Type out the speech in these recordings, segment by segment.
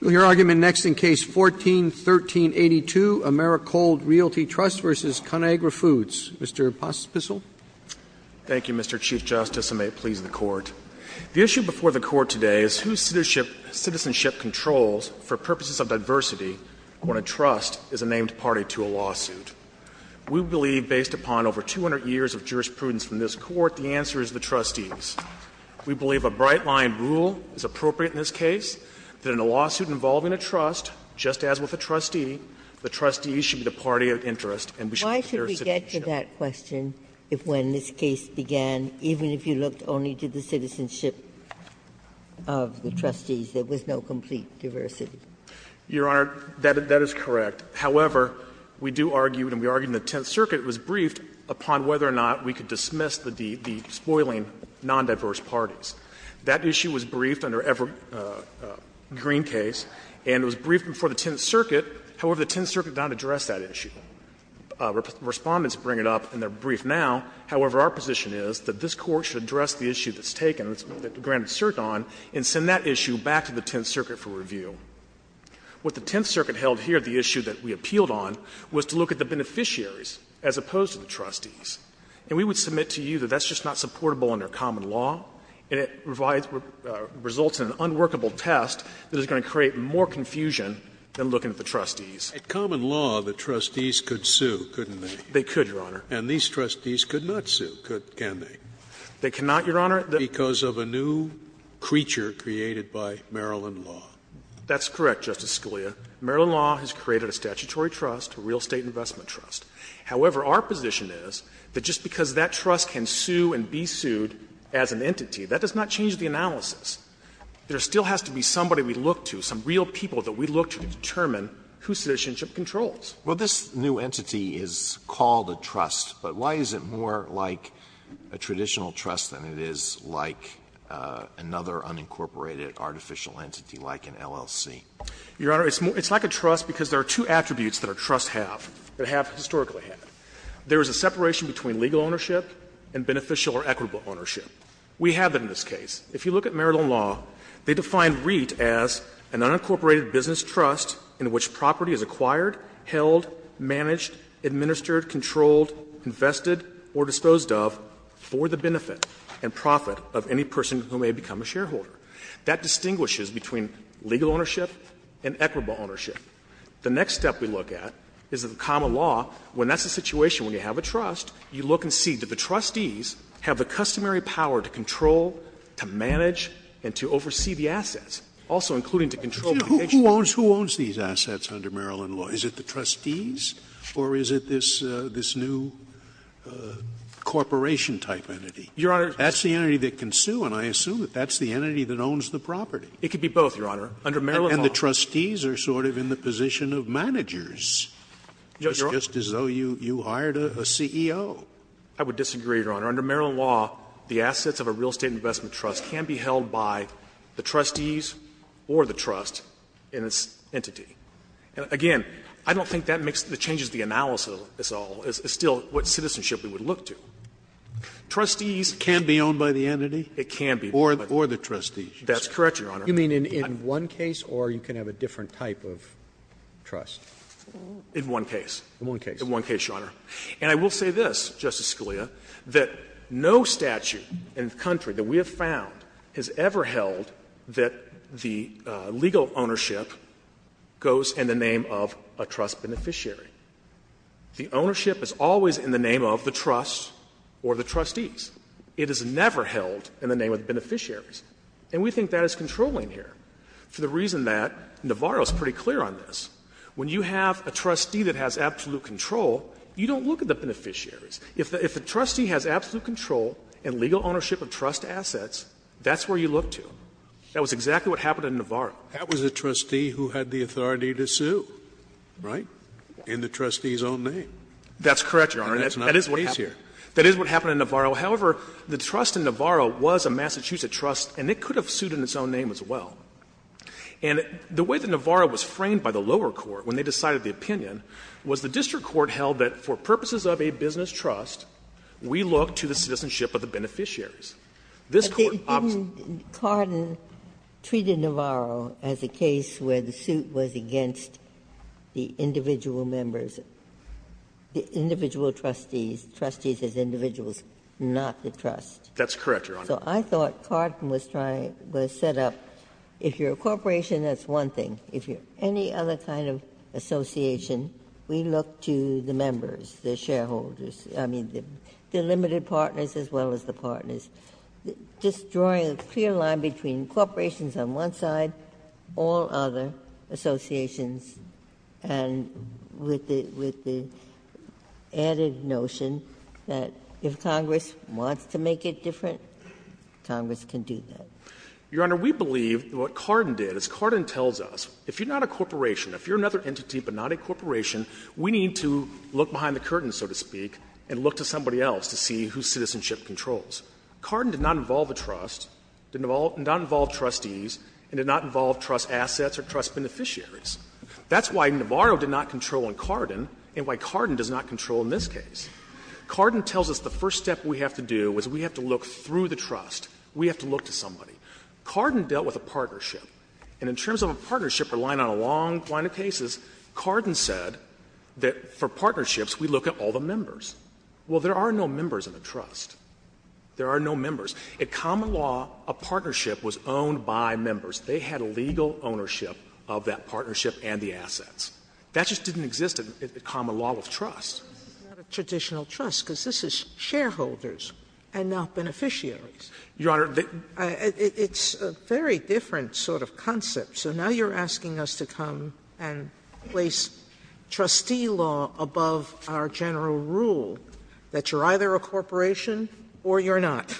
We'll hear argument next in Case 14-1382, Americold Realty Trust v. ConAgra Foods. Mr. Pospisil. Thank you, Mr. Chief Justice, and may it please the Court. The issue before the Court today is whose citizenship controls, for purposes of diversity, when a trust is a named party to a lawsuit. We believe, based upon over 200 years of jurisprudence from this Court, the answer is the trustees. We believe a bright-line rule is appropriate in this case. That in a lawsuit involving a trust, just as with a trustee, the trustees should be the party of interest and we should look at their citizenship. Why should we get to that question if when this case began, even if you looked only to the citizenship of the trustees, there was no complete diversity? Your Honor, that is correct. However, we do argue, and we argued in the Tenth Circuit, it was briefed upon whether or not we could dismiss the spoiling nondiverse parties. That issue was briefed under Everett Green's case and it was briefed before the Tenth Circuit, however, the Tenth Circuit did not address that issue. Respondents bring it up and they are briefed now, however, our position is that this Court should address the issue that's taken, that granted cert on, and send that issue back to the Tenth Circuit for review. What the Tenth Circuit held here, the issue that we appealed on, was to look at the beneficiaries as opposed to the trustees. And we would submit to you that that's just not supportable under common law and it provides or results in an unworkable test that is going to create more confusion than looking at the trustees. Scalia, and these trustees could not sue, could they? They cannot, Your Honor, because of a new creature created by Maryland law. That's correct, Justice Scalia. Maryland law has created a statutory trust, a real estate investment trust. However, our position is that just because that trust can sue and be sued as an entity, that does not change the analysis. There still has to be somebody we look to, some real people that we look to determine whose citizenship controls. Alito, this new entity is called a trust, but why is it more like a traditional trust than it is like another unincorporated artificial entity like an LLC? Your Honor, it's like a trust because there are two attributes that a trust have, that have historically had. There is a separation between legal ownership and beneficial or equitable ownership. We have that in this case. If you look at Maryland law, they define REIT as an unincorporated business trust in which property is acquired, held, managed, administered, controlled, invested or disposed of for the benefit and profit of any person who may become a shareholder. That distinguishes between legal ownership and equitable ownership. The next step we look at is the common law, when that's the situation, when you have a trust, you look and see do the trustees have the customary power to control, to manage, and to oversee the assets, also including to control the agency. Scalia, who owns these assets under Maryland law? Is it the trustees or is it this new corporation-type entity? Your Honor. That's the entity that can sue, and I assume that that's the entity that owns the property. It could be both, Your Honor, under Maryland law. And the trustees are sort of in the position of managers, just as though you hired a CEO. I would disagree, Your Honor. Under Maryland law, the assets of a real estate investment trust can be held by the trustees or the trust in its entity. Again, I don't think that makes the changes to the analysis of this all. It's still what citizenship we would look to. Trustees can be owned by the entity? It can be. Or the trustees. That's correct, Your Honor. You mean in one case or you can have a different type of trust? In one case. In one case. In one case, Your Honor. And I will say this, Justice Scalia, that no statute in the country that we have found has ever held that the legal ownership goes in the name of a trust beneficiary. The ownership is always in the name of the trust or the trustees. It is never held in the name of beneficiaries. And we think that is controlling here, for the reason that Navarro is pretty clear on this. When you have a trustee that has absolute control, you don't look at the beneficiaries. If the trustee has absolute control and legal ownership of trust assets, that's where you look to. That was exactly what happened in Navarro. That was a trustee who had the authority to sue, right, in the trustee's own name. That's correct, Your Honor. And that's not the case here. That is what happened in Navarro. However, the trust in Navarro was a Massachusetts trust, and it could have sued in its own name as well. And the way that Navarro was framed by the lower court when they decided the opinion was the district court held that for purposes of a business trust, we look to the citizenship of the beneficiaries. This Court opts to do that. But didn't Carden treat Navarro as a case where the suit was against the individual members, the individual trustees, trustees as individuals, not the trust? That's correct, Your Honor. So I thought Carden was trying to set up, if you're a corporation, that's one thing. If you're any other kind of association, we look to the members, the shareholders, I mean, the limited partners as well as the partners. Just drawing a clear line between corporations on one side, all other associations, and with the added notion that if Congress wants to make it different, it has to make it different, Congress can do that. Your Honor, we believe what Carden did is Carden tells us, if you're not a corporation, if you're another entity but not a corporation, we need to look behind the curtain, so to speak, and look to somebody else to see whose citizenship controls. Carden did not involve a trust, did not involve trustees, and did not involve trust assets or trust beneficiaries. That's why Navarro did not control in Carden and why Carden does not control in this case. Carden tells us the first step we have to do is we have to look through the trust. We have to look to somebody. Carden dealt with a partnership. And in terms of a partnership, relying on a long line of cases, Carden said that for partnerships we look at all the members. Well, there are no members in a trust. There are no members. In common law, a partnership was owned by members. They had legal ownership of that partnership and the assets. That just didn't exist in common law with trust. Sotomayor, it's not a traditional trust, because this is shareholders and not beneficiaries. Carden, it's a very different sort of concept. So now you're asking us to come and place trustee law above our general rule, that you're either a corporation or you're not.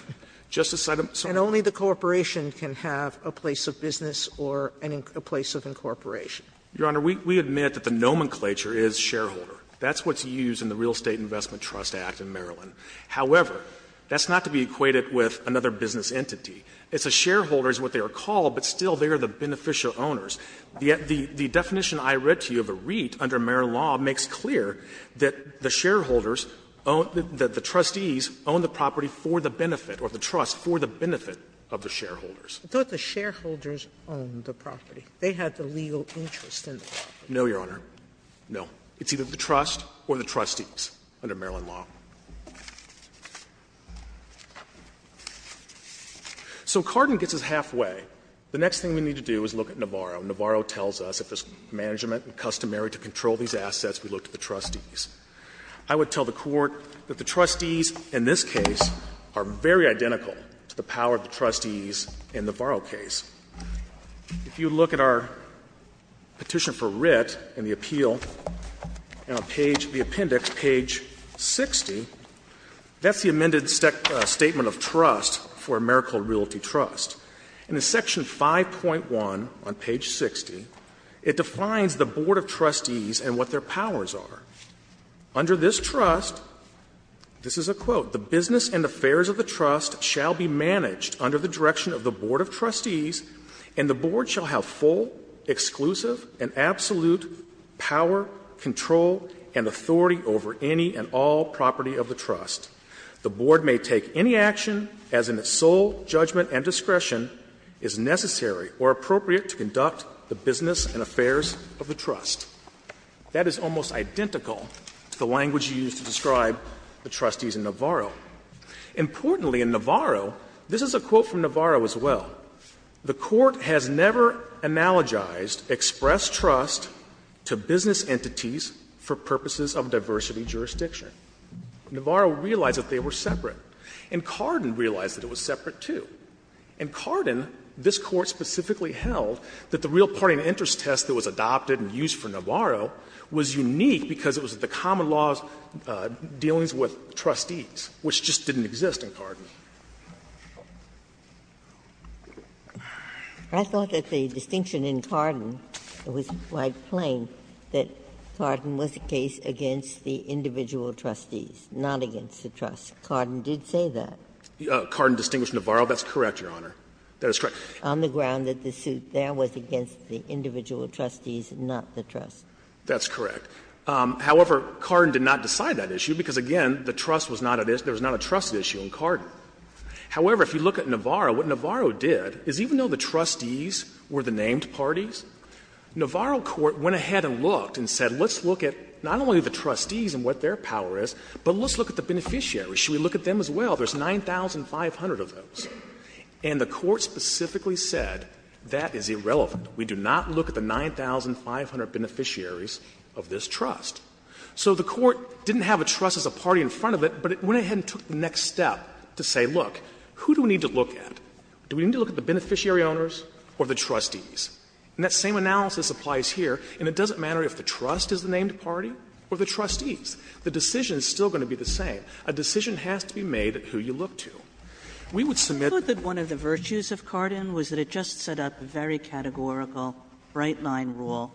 Carden, and only the corporation can have a place of business or a place of incorporation. Your Honor, we admit that the nomenclature is shareholder. That's what's used in the Real Estate Investment Trust Act in Maryland. However, that's not to be equated with another business entity. It's a shareholder is what they are called, but still they are the beneficial owners. The definition I read to you of a REIT under Maryland law makes clear that the shareholders own the – that the trustees own the property for the benefit or the trust for the benefit of the shareholders. Sotomayor, I thought the shareholders owned the property. They had the legal interest in the property. No, Your Honor. No. It's either the trust or the trustees under Maryland law. So Carden gets us halfway. The next thing we need to do is look at Navarro. Navarro tells us if it's management and customary to control these assets, we look to the trustees. I would tell the Court that the trustees in this case are very identical to the power of the trustees in the Navarro case. If you look at our petition for writ and the appeal, on page – the appendix, page 60, that's the amended statement of trust for AmeriCorps Realty Trust. In the section 5.1 on page 60, it defines the board of trustees and what their powers are. Under this trust, this is a quote, That is almost identical to the language you used to describe the trustees in Navarro. The board shall have full, exclusive, and absolute power, control, and authority over any and all property of the trust. The board may take any action, as in its sole judgment and discretion, is necessary or appropriate to conduct the business and affairs of the trust. That is almost identical to the language you used to describe the trustees in Navarro. Importantly, in Navarro, this is a quote from Navarro as well. The Court has never analogized express trust to business entities for purposes of diversity jurisdiction. Navarro realized that they were separate. And Carden realized that it was separate, too. In Carden, this Court specifically held that the real party and interest test that was adopted and used for Navarro was unique because it was the common law's dealings with trustees, which just didn't exist in Carden. Ginsburg. I thought that the distinction in Carden was quite plain, that Carden was the case against the individual trustees, not against the trust. Carden did say that. Carden distinguished Navarro. That's correct, Your Honor. That is correct. On the ground that the suit there was against the individual trustees, not the trust. That's correct. However, Carden did not decide that issue because, again, the trust was not a issue – there was not a trust issue in Carden. However, if you look at Navarro, what Navarro did is even though the trustees were the named parties, Navarro Court went ahead and looked and said, let's look at not only the trustees and what their power is, but let's look at the beneficiaries. Should we look at them as well? There's 9,500 of those. And the Court specifically said that is irrelevant. We do not look at the 9,500 beneficiaries of this trust. So the Court didn't have a trust as a party in front of it, but it went ahead and took the next step to say, look, who do we need to look at? Do we need to look at the beneficiary owners or the trustees? And that same analysis applies here, and it doesn't matter if the trust is the named party or the trustees. The decision is still going to be the same. A decision has to be made at who you look to. We would submit that one of the virtues of Carden was that it just set up very categorical bright-line rule.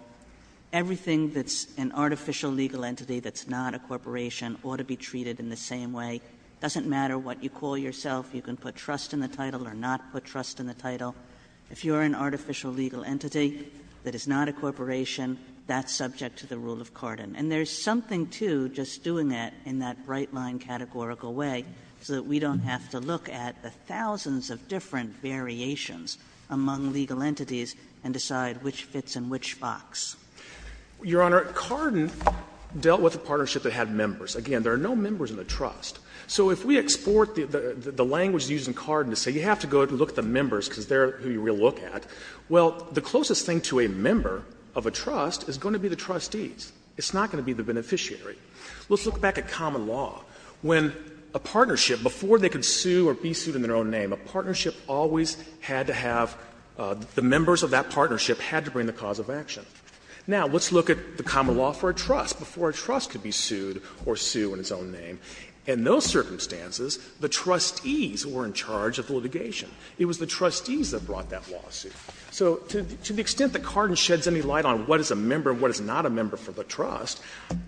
Everything that's an artificial legal entity that's not a corporation ought to be treated in the same way. It doesn't matter what you call yourself. You can put trust in the title or not put trust in the title. If you're an artificial legal entity that is not a corporation, that's subject to the rule of Carden. And there's something to just doing that in that bright-line categorical way so that we don't have to look at the thousands of different variations among legal entities and decide which fits in which box. Your Honor, Carden dealt with a partnership that had members. Again, there are no members in the trust. So if we export the language used in Carden to say you have to go look at the members because they're who you're going to look at, well, the closest thing to a member of a trust is going to be the trustees. It's not going to be the beneficiary. Let's look back at common law. When a partnership, before they could sue or be sued in their own name, a partnership always had to have the members of that partnership had to bring the cause of action. Now, let's look at the common law for a trust. Before a trust could be sued or sue in its own name, in those circumstances, the trustees were in charge of the litigation. It was the trustees that brought that lawsuit. So to the extent that Carden sheds any light on what is a member and what is not a member for the trust,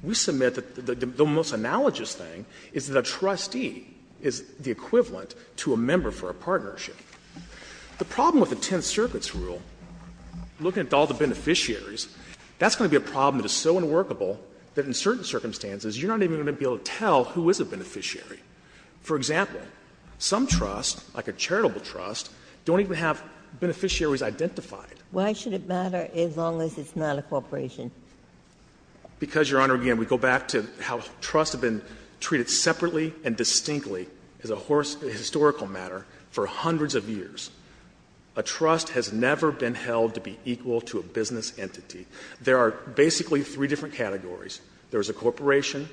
we submit that the most analogous thing is that a trustee is the equivalent to a member for a partnership. The problem with the Tenth Circuit's rule, looking at all the beneficiaries, that's going to be a problem that is so unworkable that in certain circumstances you're not even going to be able to tell who is a beneficiary. For example, some trusts, like a charitable trust, don't even have beneficiaries identified. Ginsburg. Why should it matter as long as it's not a corporation? Because, Your Honor, again, we go back to how trusts have been treated separately and distinctly as a historical matter for hundreds of years. A trust has never been held to be equal to a business entity. There are basically three different categories. There is a corporation,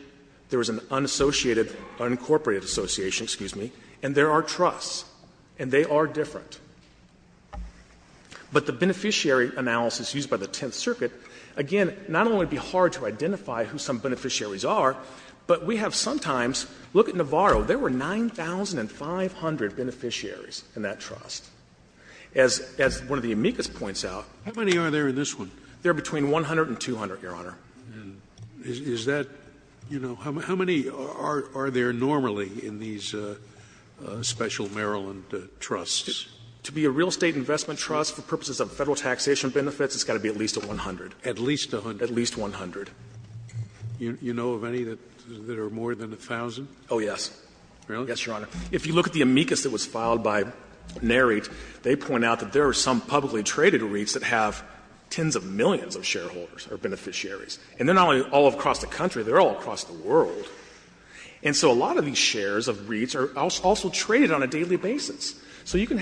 there is an unassociated, unincorporated association, excuse me, and there are trusts, and they are different. But the beneficiary analysis used by the Tenth Circuit, again, not only would it be hard to identify who some beneficiaries are, but we have sometimes, look at Navarro. There were 9,500 beneficiaries in that trust. As one of the amicus points out. Scalia. How many are there in this one? They are between 100 and 200, Your Honor. Is that, you know, how many are there normally in these special Maryland trusts? To be a real estate investment trust for purposes of Federal taxation benefits, it's got to be at least 100. At least 100. At least 100. You know of any that are more than 1,000? Oh, yes. Really? Yes, Your Honor. If you look at the amicus that was filed by NARIT, they point out that there are some publicly traded REITs that have tens of millions of shareholders or beneficiaries. And they are not only all across the country, they are all across the world. And so a lot of these shares of REITs are also traded on a daily basis. If I could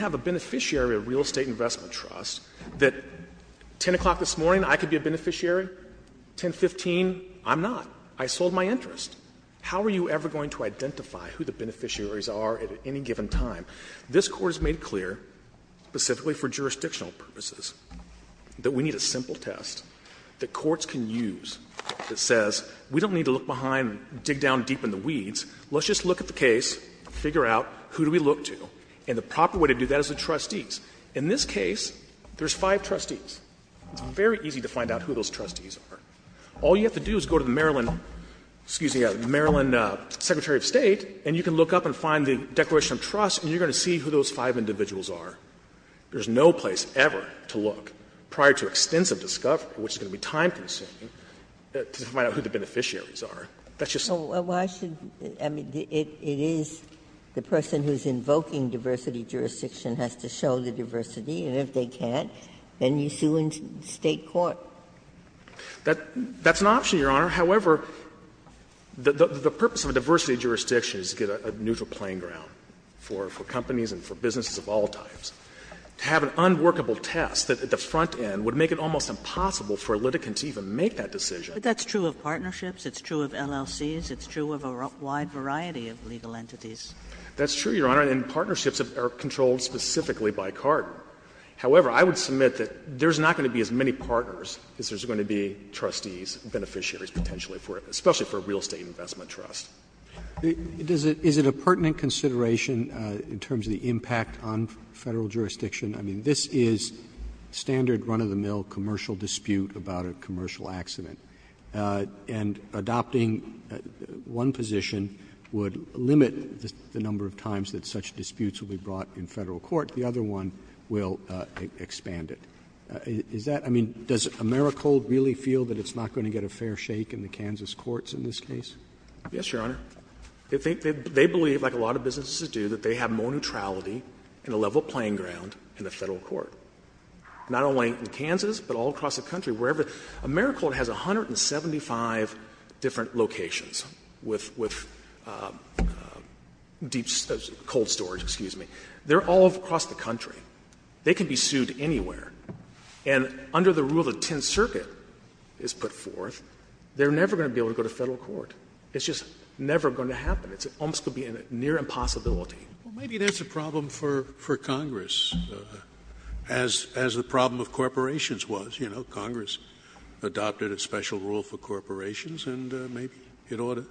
talk this morning, I could be a beneficiary, 1015, I'm not. I sold my interest. How are you ever going to identify who the beneficiaries are at any given time? This Court has made clear, specifically for jurisdictional purposes, that we need a simple test that courts can use that says, we don't need to look behind and dig down deep in the weeds, let's just look at the case, figure out who do we look to, and the proper way to do that is the trustees. In this case, there's five trustees. It's very easy to find out who those trustees are. All you have to do is go to the Maryland, excuse me, the Maryland Secretary of State, and you can look up and find the Declaration of Trust, and you're going to see who those five individuals are. There's no place ever to look, prior to extensive discovery, which is going to be time-consuming, to find out who the beneficiaries are. That's just the way it is. Ginsburg. Well, why should the person who is invoking diversity jurisdiction has to show the case to you in State court? That's an option, Your Honor. However, the purpose of a diversity jurisdiction is to get a neutral playing ground for companies and for businesses of all types. To have an unworkable test at the front end would make it almost impossible for a litigant to even make that decision. But that's true of partnerships, it's true of LLCs, it's true of a wide variety of legal entities. That's true, Your Honor, and partnerships are controlled specifically by CARD. However, I would submit that there's not going to be as many partners as there's going to be trustees, beneficiaries, potentially, for it, especially for a real estate investment trust. Roberts. Is it a pertinent consideration in terms of the impact on Federal jurisdiction? I mean, this is standard run-of-the-mill commercial dispute about a commercial accident, and adopting one position would limit the number of times that such disputes will be brought in Federal court, the other one will expand it. Is that — I mean, does AmeriCold really feel that it's not going to get a fair shake in the Kansas courts in this case? Yes, Your Honor. They believe, like a lot of businesses do, that they have more neutrality and a level playing ground in the Federal court. Not only in Kansas, but all across the country, wherever. AmeriCold has 175 different locations with deep — cold storage, excuse me. They're all across the country. They can be sued anywhere. And under the rule the Tenth Circuit has put forth, they're never going to be able to go to Federal court. It's just never going to happen. It's almost going to be a near impossibility. Maybe that's a problem for Congress, as the problem of corporations was, you know. Congress adopted a special rule for corporations, and maybe it ought to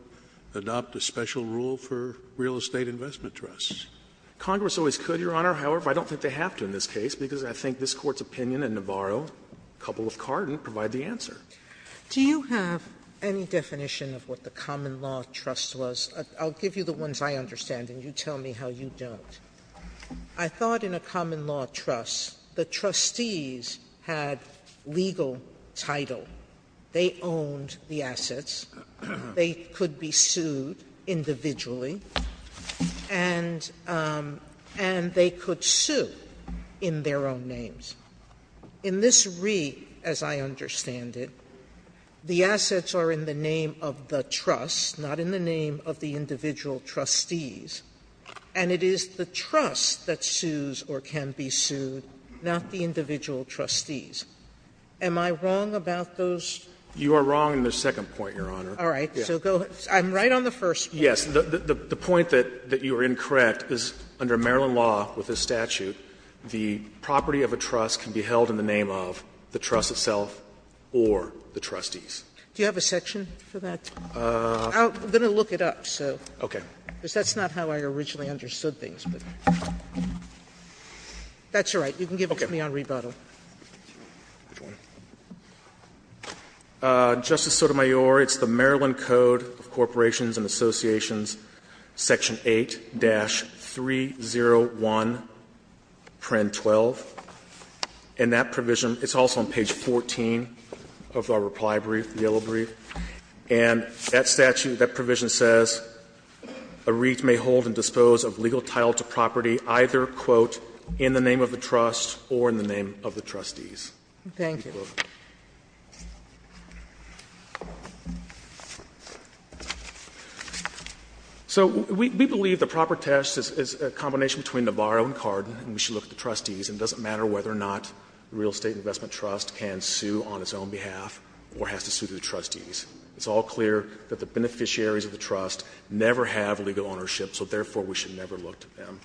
adopt a special rule for real estate investment trusts. Congress always could, Your Honor. However, I don't think they have to in this case, because I think this Court's opinion and Nabarro, a couple of Carden, provide the answer. Sotomayor, do you have any definition of what the common law trust was? I'll give you the ones I understand, and you tell me how you don't. I thought in a common law trust, the trustees had legal title. They owned the assets. They could be sued individually, and they could sue in their own names. In this read, as I understand it, the assets are in the name of the trust, not in the name of the individual trustees. And it is the trust that sues or can be sued, not the individual trustees. Am I wrong about those? You are wrong in the second point, Your Honor. All right. So go ahead. I'm right on the first point. Yes. The point that you are incorrect is, under Maryland law, with this statute, the property of a trust can be held in the name of the trust itself or the trustees. Do you have a section for that? I'm going to look it up, so. Okay. That's not how I originally understood things, but. That's all right. You can give it to me on rebuttal. Justice Sotomayor, it's the Maryland Code of Corporations and Associations, section 8-301, print 12, and that provision is also on page 14 of our reply brief, the yellow brief. And that statute, that provision says a REIT may hold and dispose of legal title to property either, quote, in the name of the trust or in the name of the trustees. Thank you. So we believe the proper test is a combination between Nabarro and Cardin, and we should look at the trustees, and it doesn't matter whether or not the Real Estate Investment Trust can sue on its own behalf or has to sue through the trustees. It's all clear that the beneficiaries of the trust never have legal ownership, so therefore we should never look to them.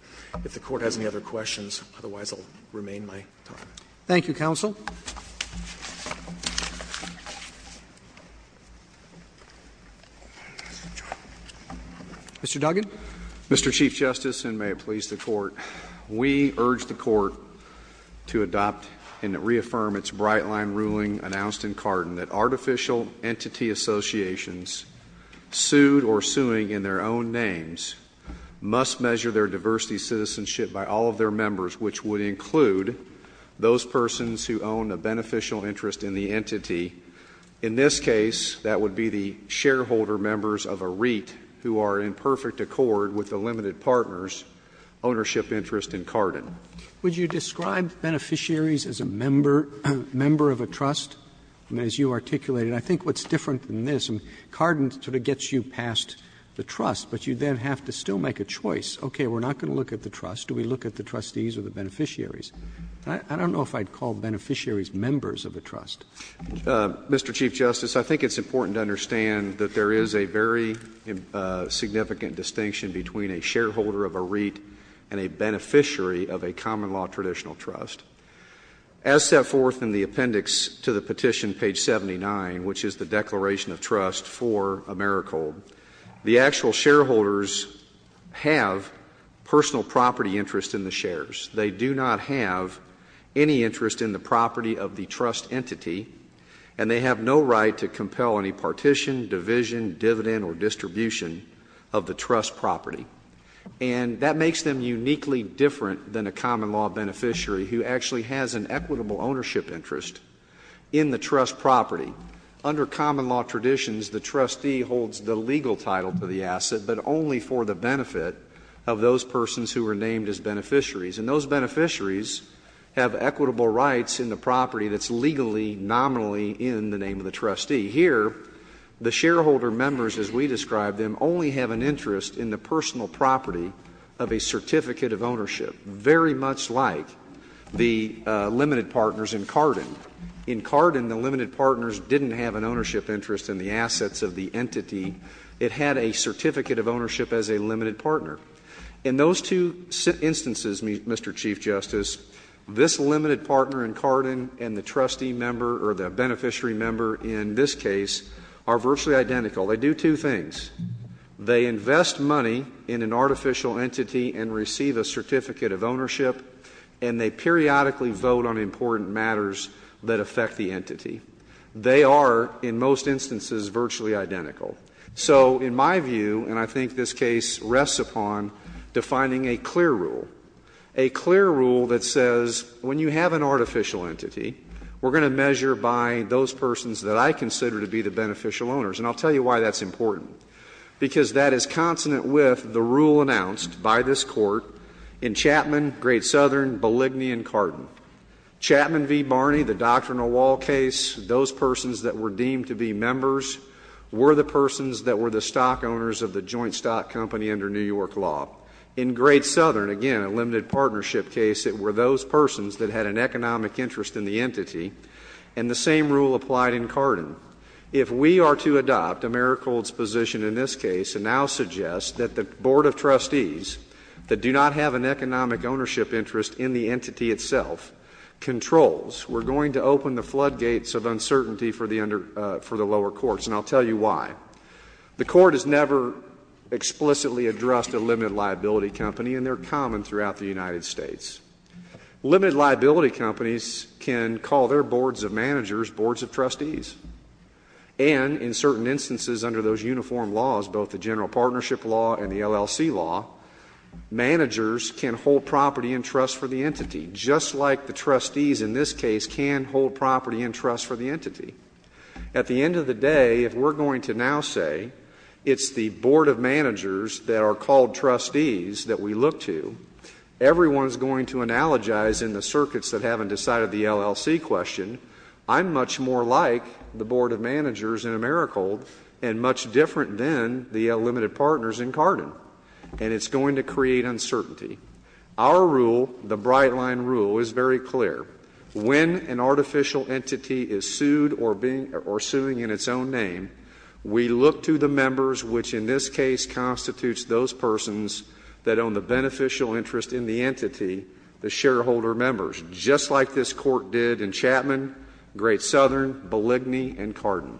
If the Court has any other questions, otherwise I'll remain my time. Thank you, counsel. Mr. Duggan. Mr. Chief Justice, and may it please the Court, we urge the Court to adopt and reaffirm its bright-line ruling announced in Cardin that artificial entity associations sued or suing in their own names must measure their diversity citizenship by all of their members, which would include those persons who own a beneficial interest in the entity. In this case, that would be the shareholder members of a REIT who are in perfect accord with the limited partner's ownership interest in Cardin. Would you describe beneficiaries as a member of a trust? I mean, as you articulated, I think what's different than this, and Cardin sort of gets you past the trust, but you then have to still make a choice. Okay, we're not going to look at the trust. Do we look at the trustees or the beneficiaries? I don't know if I'd call beneficiaries members of a trust. Mr. Chief Justice, I think it's important to understand that there is a very significant distinction between a shareholder of a REIT and a beneficiary of a common-law traditional trust. As set forth in the appendix to the petition, page 79, which is the declaration of trust for AmeriCorps, the actual shareholders have personal property interest in the shares. They do not have any interest in the property of the trust entity, and they have no right to compel any partition, division, dividend, or distribution of the trust property. And that makes them uniquely different than a common-law beneficiary who actually has an equitable ownership interest in the trust property. Under common-law traditions, the trustee holds the legal title to the asset, but only for the benefit of those persons who are named as beneficiaries. And those beneficiaries have equitable rights in the property that's legally, nominally in the name of the trustee. Here, the shareholder members, as we described them, only have an interest in the personal property of a certificate of ownership, very much like the limited partners in Carden. In Carden, the limited partners didn't have an ownership interest in the assets of the entity. It had a certificate of ownership as a limited partner. In those two instances, Mr. Chief Justice, this limited partner in Carden and the trustee member, or the beneficiary member in this case, are virtually identical. They do two things. They invest money in an artificial entity and receive a certificate of ownership, and they periodically vote on important matters that affect the entity. They are, in most instances, virtually identical. So in my view, and I think this case rests upon defining a clear rule, a clear rule that says, when you have an artificial entity, we're going to measure by those persons that I consider to be the beneficial owners, and I'll tell you why that's important. Because that is consonant with the rule announced by this Court in Chapman v. Barney, the doctrinal wall case, those persons that were deemed to be members were the persons that were the stock owners of the joint stock company under New York law. In Great Southern, again, a limited partnership case, it were those persons that had an economic interest in the entity, and the same rule applied in Carden. If we are to adopt Americhold's position in this case and now suggest that the Board of Trustees that do not have an economic ownership interest in the entity itself controls, we're going to open the floodgates of uncertainty for the lower courts, and I'll tell you why. The Court has never explicitly addressed a limited liability company, and they're common throughout the United States. Limited liability companies can call their boards of managers boards of trustees. And in certain instances under those uniform laws, both the general partnership law and the LLC law, managers can hold property and trust for the entity, just like the trustees At the end of the day, if we're going to now say it's the board of managers that are called trustees that we look to, everyone's going to analogize in the circuits that haven't decided the LLC question, I'm much more like the board of managers in Americhold and much different than the limited partners in Carden, and it's going to create uncertainty. Our rule, the Brightline rule, is very clear. When an artificial entity is sued or being or suing in its own name, we look to the members which in this case constitutes those persons that own the beneficial interest in the entity, the shareholder members, just like this court did in Chapman, Great Southern, Belligny, and Carden.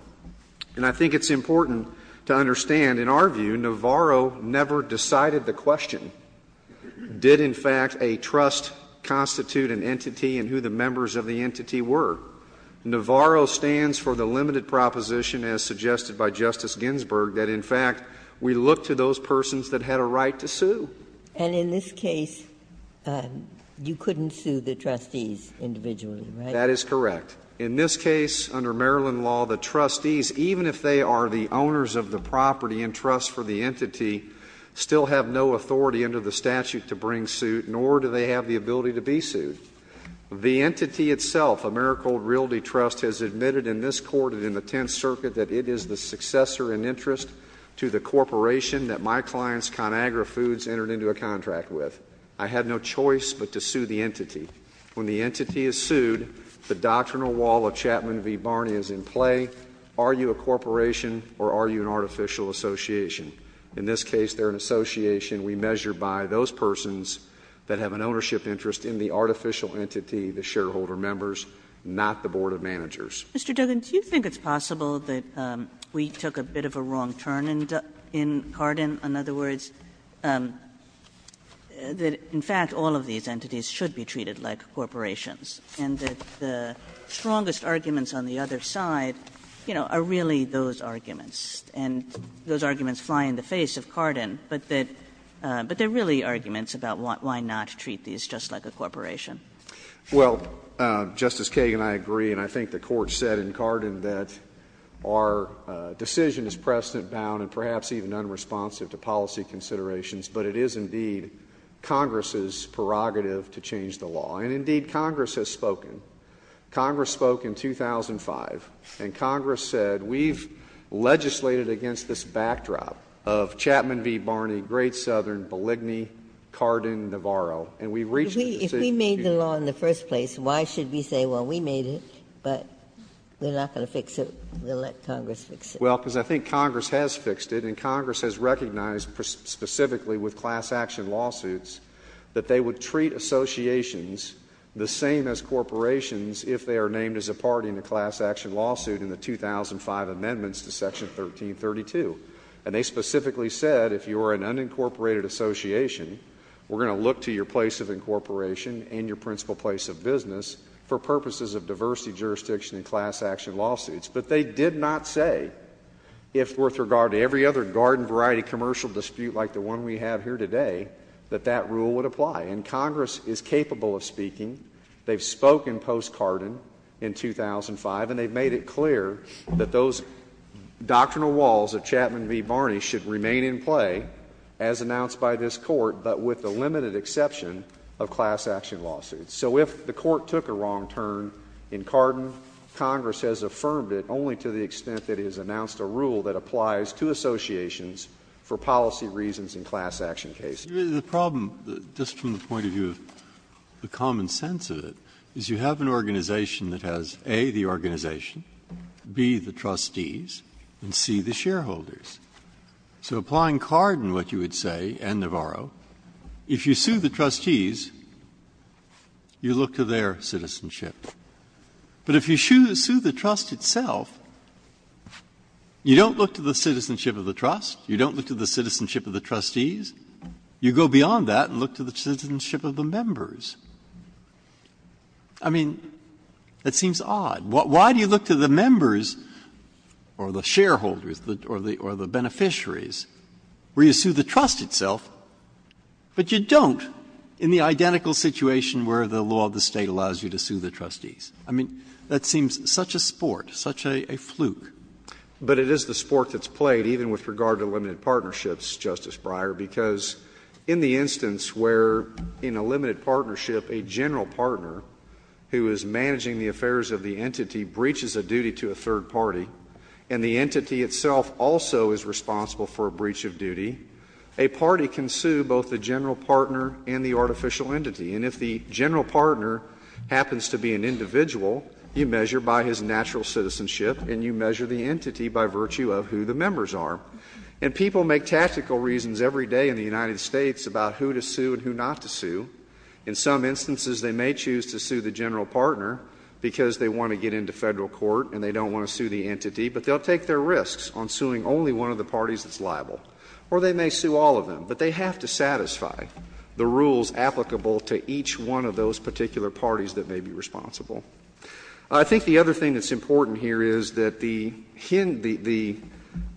And I think it's important to understand, in our view, Navarro never decided the question, did in fact a trust constitute an entity and who the members of the entity were? Navarro stands for the limited proposition, as suggested by Justice Ginsburg, that in fact we look to those persons that had a right to sue. And in this case, you couldn't sue the trustees individually, right? That is correct. In this case, under Maryland law, the trustees, even if they are the owners of the property and trust for the entity, still have no authority under the statute to bring suit, nor do they have the ability to be sued. The entity itself, Americhold Realty Trust, has admitted in this court and in the Tenth Circuit that it is the successor and interest to the corporation that my client's ConAgra Foods entered into a contract with. When the entity is sued, the doctrinal wall of Chapman v. Barney is in play. Are you a corporation or are you an artificial association? In this case, they're an association we measure by those persons that have an ownership interest in the artificial entity, the shareholder members, not the board of managers. Kagan, do you think it's possible that we took a bit of a wrong turn in Carden? In other words, that in fact, all of these entities should be treated like corporations, and that the strongest arguments on the other side, you know, are really those arguments. And those arguments fly in the face of Carden, but that they're really arguments about why not treat these just like a corporation. Well, Justice Kagan, I agree, and I think the Court said in Carden that our decision is precedent-bound and perhaps even unresponsive to policy considerations, but it is indeed Congress's prerogative to change the law. And indeed, Congress has spoken. Congress spoke in 2005, and Congress said we've legislated against this backdrop of Chapman v. Barney, Great Southern, Beligni, Carden, Navarro, and we've reached a decision. If we made the law in the first place, why should we say, well, we made it, but we're not going to fix it, we'll let Congress fix it? Well, because I think Congress has fixed it, and Congress has recognized specifically with class-action lawsuits that they would treat associations the same as corporations if they are named as a party in a class-action lawsuit in the 2005 amendments to Section 1332. And they specifically said, if you are an unincorporated association, we're going to look to your place of incorporation and your principal place of business for purposes of diversity, jurisdiction, and class-action lawsuits. But they did not say, if worth regard to every other garden-variety commercial dispute like the one we have here today, that that rule would apply. And Congress is capable of speaking. They've spoken post-Carden in 2005, and they've made it clear that those doctrinal walls of Chapman v. Barney should remain in play as announced by this Court, but with the limited exception of class-action lawsuits. So if the Court took a wrong turn in Carden, Congress has affirmed it only to the extent that it has announced a rule that applies to associations for policy reasons in class-action cases. Breyer, the problem, just from the point of view of the common sense of it, is you have an organization that has, A, the organization, B, the trustees, and C, the shareholders. So applying Carden, what you would say, and Navarro, if you sue the trustees, you look to their citizenship. But if you sue the trust itself, you don't look to the citizenship of the trust, you don't look to the citizenship of the trustees. You go beyond that and look to the citizenship of the members. I mean, that seems odd. Why do you look to the members or the shareholders or the beneficiaries where you sue the trust itself, but you don't in the identical situation where the law of the State allows you to sue the trustees? I mean, that seems such a sport, such a fluke. But it is the sport that's played, even with regard to limited partnerships, Justice Breyer, because in the instance where in a limited partnership a general partner, who is managing the affairs of the entity, breaches a duty to a third party, and the entity itself also is responsible for a breach of duty, a party can sue both the general partner and the artificial entity. And if the general partner happens to be an individual, you measure by his natural citizenship, and you measure the entity by virtue of who the members are. And people make tactical reasons every day in the United States about who to sue and who not to sue. In some instances, they may choose to sue the general partner because they want to get into Federal court and they don't want to sue the entity, but they'll take their risks on suing only one of the parties that's liable. Or they may sue all of them. But they have to satisfy the rules applicable to each one of those particular parties that may be responsible. I think the other thing that's important here is that the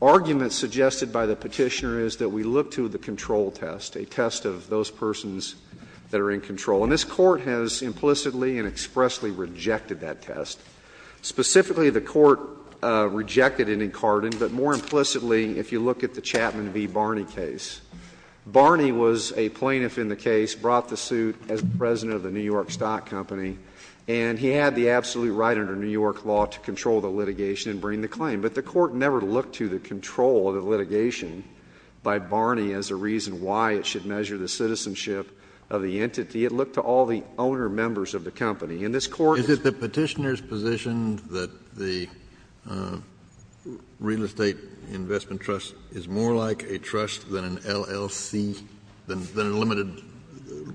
argument suggested by the Petitioner is that we look to the control test, a test of those persons' rights that are in control. And this Court has implicitly and expressly rejected that test. Specifically, the Court rejected it in Carden, but more implicitly, if you look at the Chapman v. Barney case. Barney was a plaintiff in the case, brought the suit as president of the New York Stock Company, and he had the absolute right under New York law to control the litigation and bring the claim. But the Court never looked to the control of the litigation by Barney as a reason why it should measure the citizenship of the entity. It looked to all the owner members of the company. And this Court is — Is it the Petitioner's position that the Real Estate Investment Trust is more like a trust than an LLC, than a limited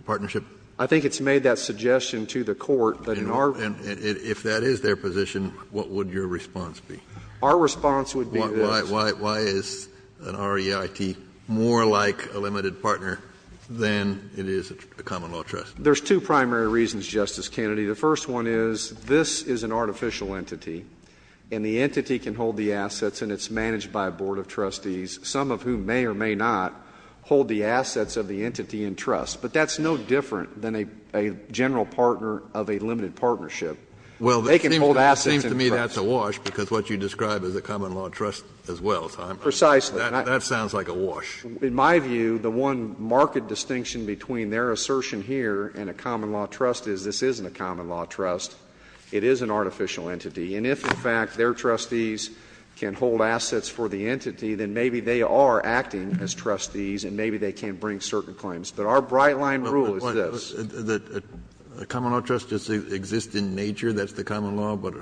partnership? I think it's made that suggestion to the Court that in our — And if that is their position, what would your response be? Our response would be this. Why is an REIT more like a limited partner than it is a common law trust? There's two primary reasons, Justice Kennedy. The first one is, this is an artificial entity, and the entity can hold the assets and it's managed by a board of trustees, some of whom may or may not hold the assets of the entity in trust. But that's no different than a general partner of a limited partnership. Well, it seems to me that's a wash, because what you describe as a common law trust as well, Simon. Precisely. That sounds like a wash. In my view, the one marked distinction between their assertion here and a common law trust is this isn't a common law trust. It is an artificial entity. And if, in fact, their trustees can hold assets for the entity, then maybe they are acting as trustees and maybe they can bring certain claims. But our bright-line rule is this. The common law trust exists in nature. That's the common law, but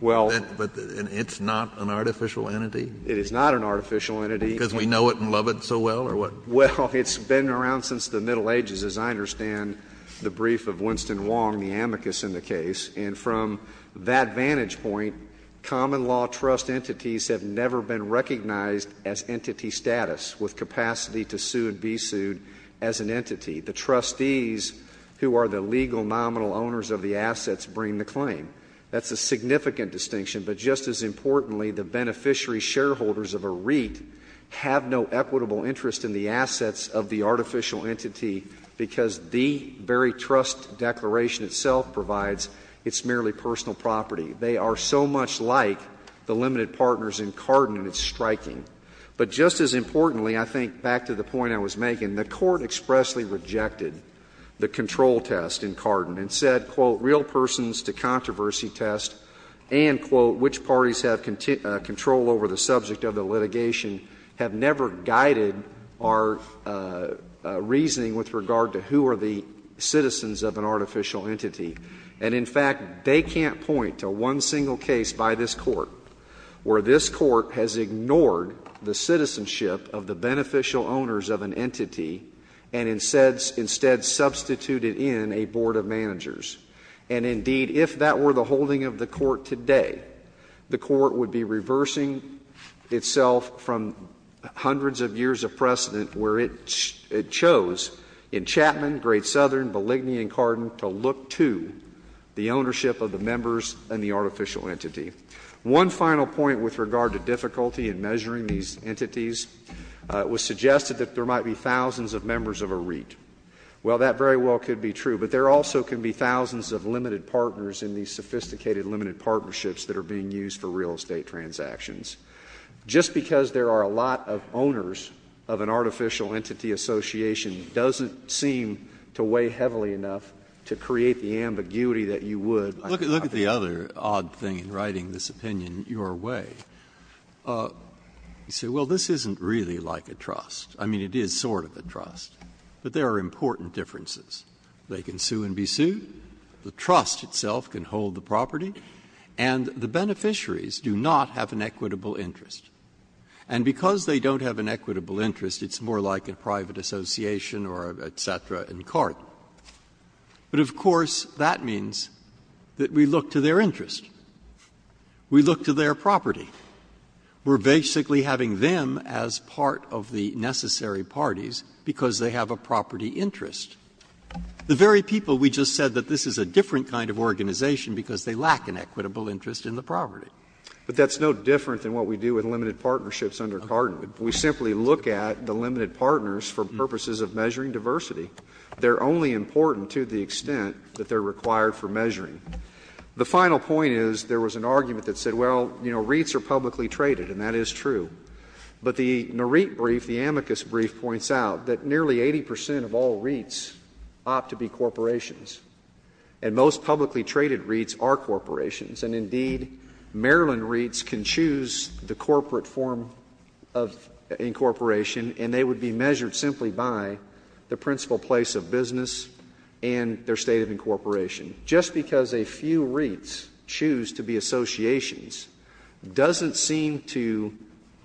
it's not an artificial entity? It is not an artificial entity. Because we know it and love it so well, or what? Well, it's been around since the Middle Ages, as I understand the brief of Winston Wong, the amicus in the case. And from that vantage point, common law trust entities have never been recognized as entity status with capacity to sue and be sued as an entity. The trustees who are the legal nominal owners of the assets bring the claim. That's a significant distinction. But just as importantly, the beneficiary shareholders of a REIT have no equitable interest in the assets of the artificial entity because the very trust declaration itself provides its merely personal property. They are so much like the limited partners in Carden, and it's striking. But just as importantly, I think back to the point I was making, the Court expressly rejected the control test in Carden and said, quote, real persons to controversy test, and, quote, which parties have control over the subject of the litigation have never guided our reasoning with regard to who are the citizens of an artificial entity. And, in fact, they can't point to one single case by this Court where this Court has ignored the citizenship of the beneficial owners of an entity and instead substituted in a board of managers. And, indeed, if that were the holding of the Court today, the Court would be reversing itself from hundreds of years of precedent where it chose in Chapman, Great Southern, Belligny, and Carden to look to the ownership of the members and the artificial entity. One final point with regard to difficulty in measuring these entities was suggested that there might be thousands of members of a REIT. Well, that very well could be true, but there also could be thousands of limited partners in these sophisticated limited partnerships that are being used for real estate transactions. Just because there are a lot of owners of an artificial entity association doesn't seem to weigh heavily enough to create the ambiguity that you would. Breyer. Look at the other odd thing in writing this opinion your way. You say, well, this isn't really like a trust. I mean, it is sort of a trust. But there are important differences. They can sue and be sued, the trust itself can hold the property, and the beneficiaries do not have an equitable interest. And because they don't have an equitable interest, it's more like a private association or et cetera in Carden. But, of course, that means that we look to their interest. We look to their property. We are basically having them as part of the necessary parties because they have a property interest. The very people we just said that this is a different kind of organization because they lack an equitable interest in the property. But that's no different than what we do with limited partnerships under Carden. We simply look at the limited partners for purposes of measuring diversity. The final point is there was an argument that said, well, you know, REITs are publicly traded, and that is true. But the NREIT brief, the amicus brief, points out that nearly 80 percent of all REITs opt to be corporations. And most publicly traded REITs are corporations. And, indeed, Maryland REITs can choose the corporate form of incorporation, and they would be measured simply by the principal place of business and their state of incorporation. Just because a few REITs choose to be associations doesn't seem to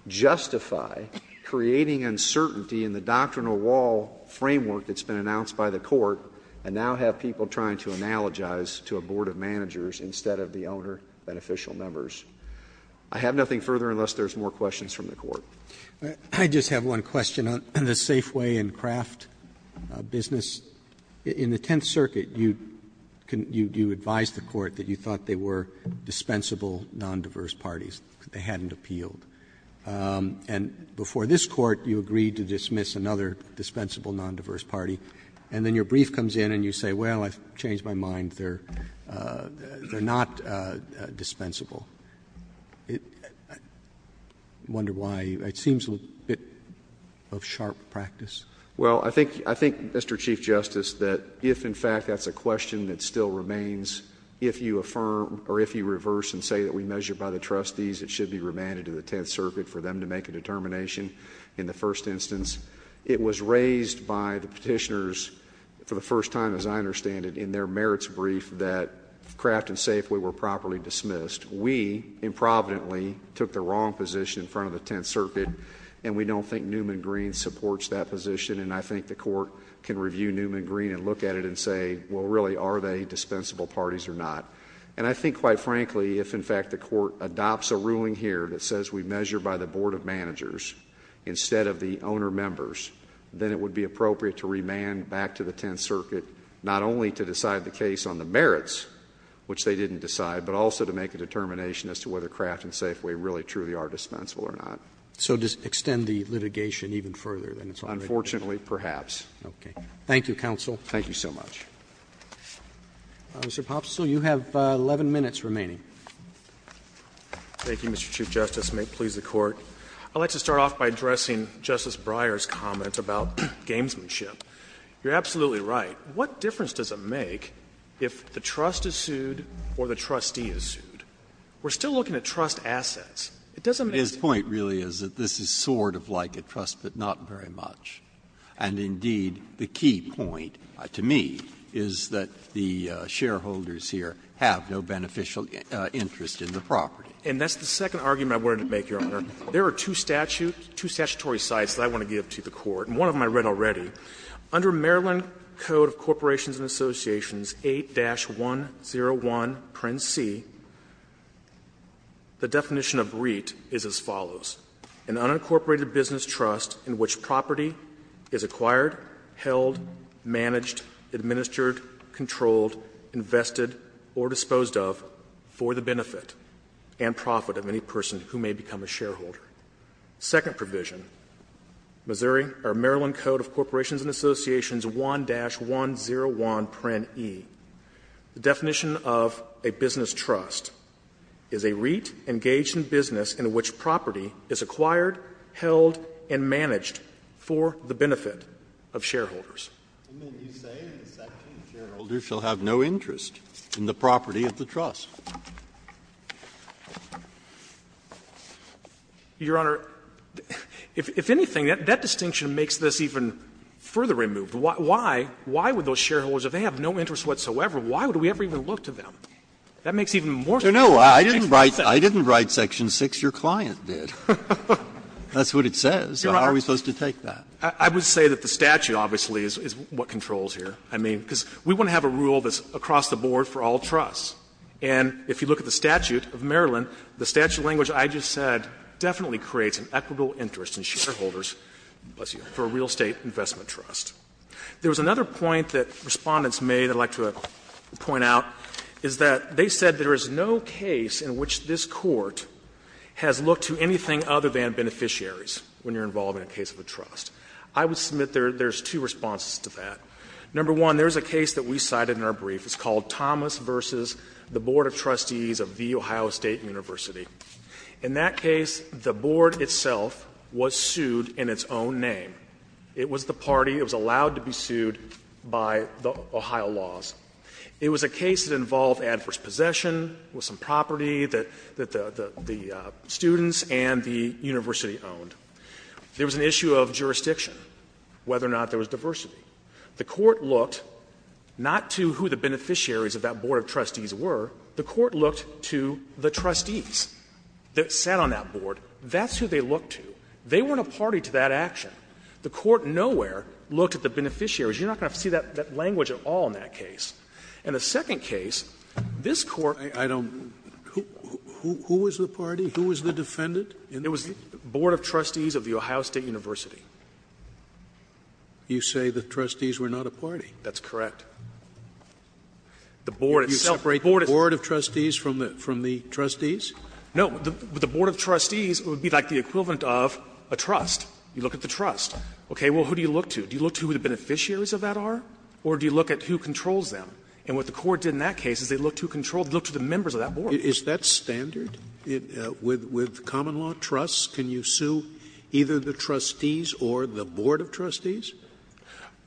justify creating uncertainty in the doctrinal wall framework that's been announced by the Court and now have people trying to analogize to a board of managers instead of the owner beneficial members. I have nothing further unless there's more questions from the Court. Roberts. I just have one question on the Safeway and Kraft business. In the Tenth Circuit, you advised the Court that you thought they were dispensable nondiverse parties, that they hadn't appealed. And before this Court, you agreed to dismiss another dispensable nondiverse party. And then your brief comes in and you say, well, I've changed my mind. They're not dispensable. I wonder why. It seems a bit of sharp practice. Well, I think, Mr. Chief Justice, that if, in fact, that's a question that still remains, if you affirm or if you reverse and say that we measure by the trustees, it should be remanded to the Tenth Circuit for them to make a determination in the first instance. It was raised by the petitioners for the first time, as I understand it, in their merits brief that Kraft and Safeway were properly dismissed. We improvidently took the wrong position in front of the Tenth Circuit, and we don't think Newman Green supports that position. And I think the Court can review Newman Green and look at it and say, well, really, are they dispensable parties or not? And I think, quite frankly, if, in fact, the Court adopts a ruling here that says we measure by the board of managers instead of the owner members, then it would be appropriate to remand back to the Tenth Circuit, not only to decide the case on the merits, which they didn't decide, but also to make a determination as to whether Kraft and Safeway really, truly are dispensable or not. Roberts So does it extend the litigation even further than it's already been? Pottow. Unfortunately, perhaps. Okay. Thank you, counsel. Thank you so much. Mr. Pops, you have 11 minutes remaining. Thank you, Mr. Chief Justice, and may it please the Court. I'd like to start off by addressing Justice Breyer's comment about gamesmanship. You're absolutely right. What difference does it make if the trust is sued or the trustee is sued? We're still looking at trust assets. It doesn't make any difference. Breyer's point really is that this is sort of like a trust, but not very much. And indeed, the key point to me is that the shareholders here have no beneficial interest in the property. And that's the second argument I wanted to make, Your Honor. There are two statute – two statutory sites that I want to give to the Court. And one of them I read already. Under Maryland Code of Corporations and Associations 8-101, print C, the definition of REIT is as follows, an unincorporated business trust in which property is acquired, held, managed, administered, controlled, invested, or disposed of for the benefit and profit of any person who may become a shareholder. Second provision, Missouri or Maryland Code of Corporations and Associations 1-101, print E, the definition of a business trust is a REIT engaged in business in which property is acquired, held, and managed for the benefit of shareholders. Breyer's point is that shareholders shall have no interest in the property of the trust. Your Honor, if anything, that distinction makes this even further removed. Why would those shareholders, if they have no interest whatsoever, why would we ever even look to them? That makes even more sense. Breyer's point. Breyer's point. Kennedy, your client did. That's what it says. How are we supposed to take that? Your Honor, I would say that the statute obviously is what controls here. I mean, because we want to have a rule that's across-the-board for all trusts. And if you look at the statute of Maryland, the statute of language that I just said definitely creates an equitable interest in shareholders, bless you, for a real estate investment trust. There was another point that Respondents made, I'd like to point out, is that they said there is no case in which this Court has looked to anything other than beneficiaries when you're involved in a case of a trust. I would submit there's two responses to that. Number one, there's a case that we cited in our brief. It's called Thomas v. The Board of Trustees of The Ohio State University. In that case, the Board itself was sued in its own name. It was the party that was allowed to be sued by the Ohio laws. It was a case that involved adverse possession, with some property that the students and the university owned. There was an issue of jurisdiction, whether or not there was diversity. The Court looked not to who the beneficiaries of that Board of Trustees were. The Court looked to the trustees that sat on that Board. That's who they looked to. They weren't a party to that action. The Court nowhere looked at the beneficiaries. You're not going to see that language at all in that case. In the second case, this Court was sued by the Board of Trustees of The Ohio State University. Scalia, who was the party, who was the defendant in that case? You say the trustees were not a party? That's correct. The Board itself was sued by the Board of Trustees of The Ohio State University. No, the Board of Trustees would be like the equivalent of a trust. You look at the trust. Okay, well, who do you look to? Do you look to who the beneficiaries of that are, or do you look at who controls them? And what the Court did in that case is they looked to who controlled the members of that Board. Scalia, is that standard? With common law trusts, can you sue either the trustees or the Board of Trustees?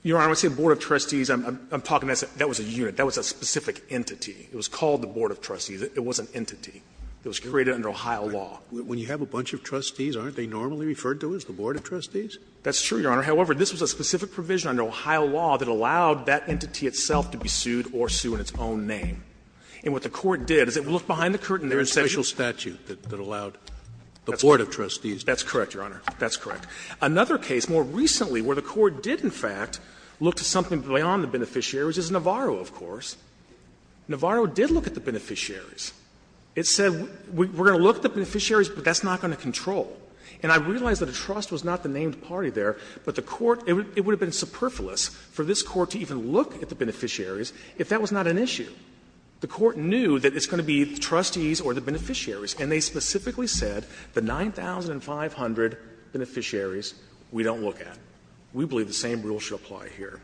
Your Honor, when I say Board of Trustees, I'm talking about that was a unit, that was a specific entity. It was called the Board of Trustees. It was an entity. It was created under Ohio law. Scalia, when you have a bunch of trustees, aren't they normally referred to as the Board of Trustees? That's true, Your Honor. However, this was a specific provision under Ohio law that allowed that entity itself to be sued or sue in its own name. And what the Court did is it looked behind the curtain. There is a special statute that allowed the Board of Trustees to do that. That's correct, Your Honor. That's correct. Another case more recently where the Court did, in fact, look to something beyond the beneficiaries is Navarro, of course. Navarro did look at the beneficiaries. It said, we're going to look at the beneficiaries, but that's not going to control. And I realize that a trust was not the named party there, but the Court, it would have been superfluous for this Court to even look at the beneficiaries if that was not an issue. The Court knew that it's going to be the trustees or the beneficiaries, and they specifically said the 9,500 beneficiaries we don't look at. We believe the same rule should apply here.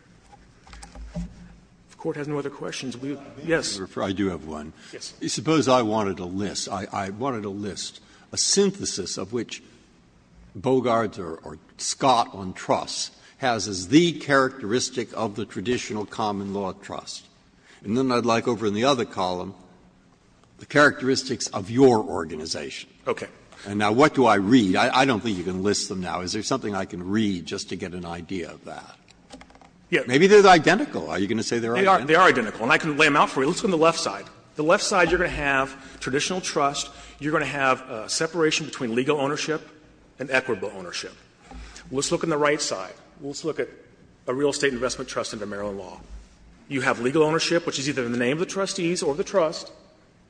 If the Court has no other questions, we would be happy to answer them. Yes. Breyer. I do have one. Yes. Suppose I wanted to list, I wanted to list a synthesis of which Bogart or Scott on trust has as the characteristic of the traditional common law trust. And then I'd like over in the other column the characteristics of your organization. Okay. And now what do I read? I don't think you can list them now. Is there something I can read just to get an idea of that? Maybe they're identical. Are you going to say they're identical? They are identical. And I can lay them out for you. Let's look on the left side. The left side you're going to have traditional trust. You're going to have a separation between legal ownership and equitable ownership. Let's look on the right side. Let's look at a real estate investment trust under Maryland law. You have legal ownership, which is either in the name of the trustees or the trust,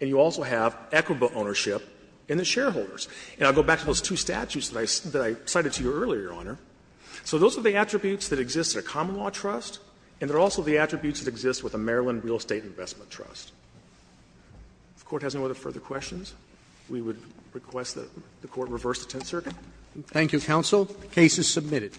and you also have equitable ownership in the shareholders. And I'll go back to those two statutes that I cited to you earlier, Your Honor. So those are the attributes that exist in a common law trust, and they're also the attributes that exist in a traditional trust. If the Court has no further questions, we would request that the Court reverse the Tenth Circuit. Thank you, counsel. The case is submitted.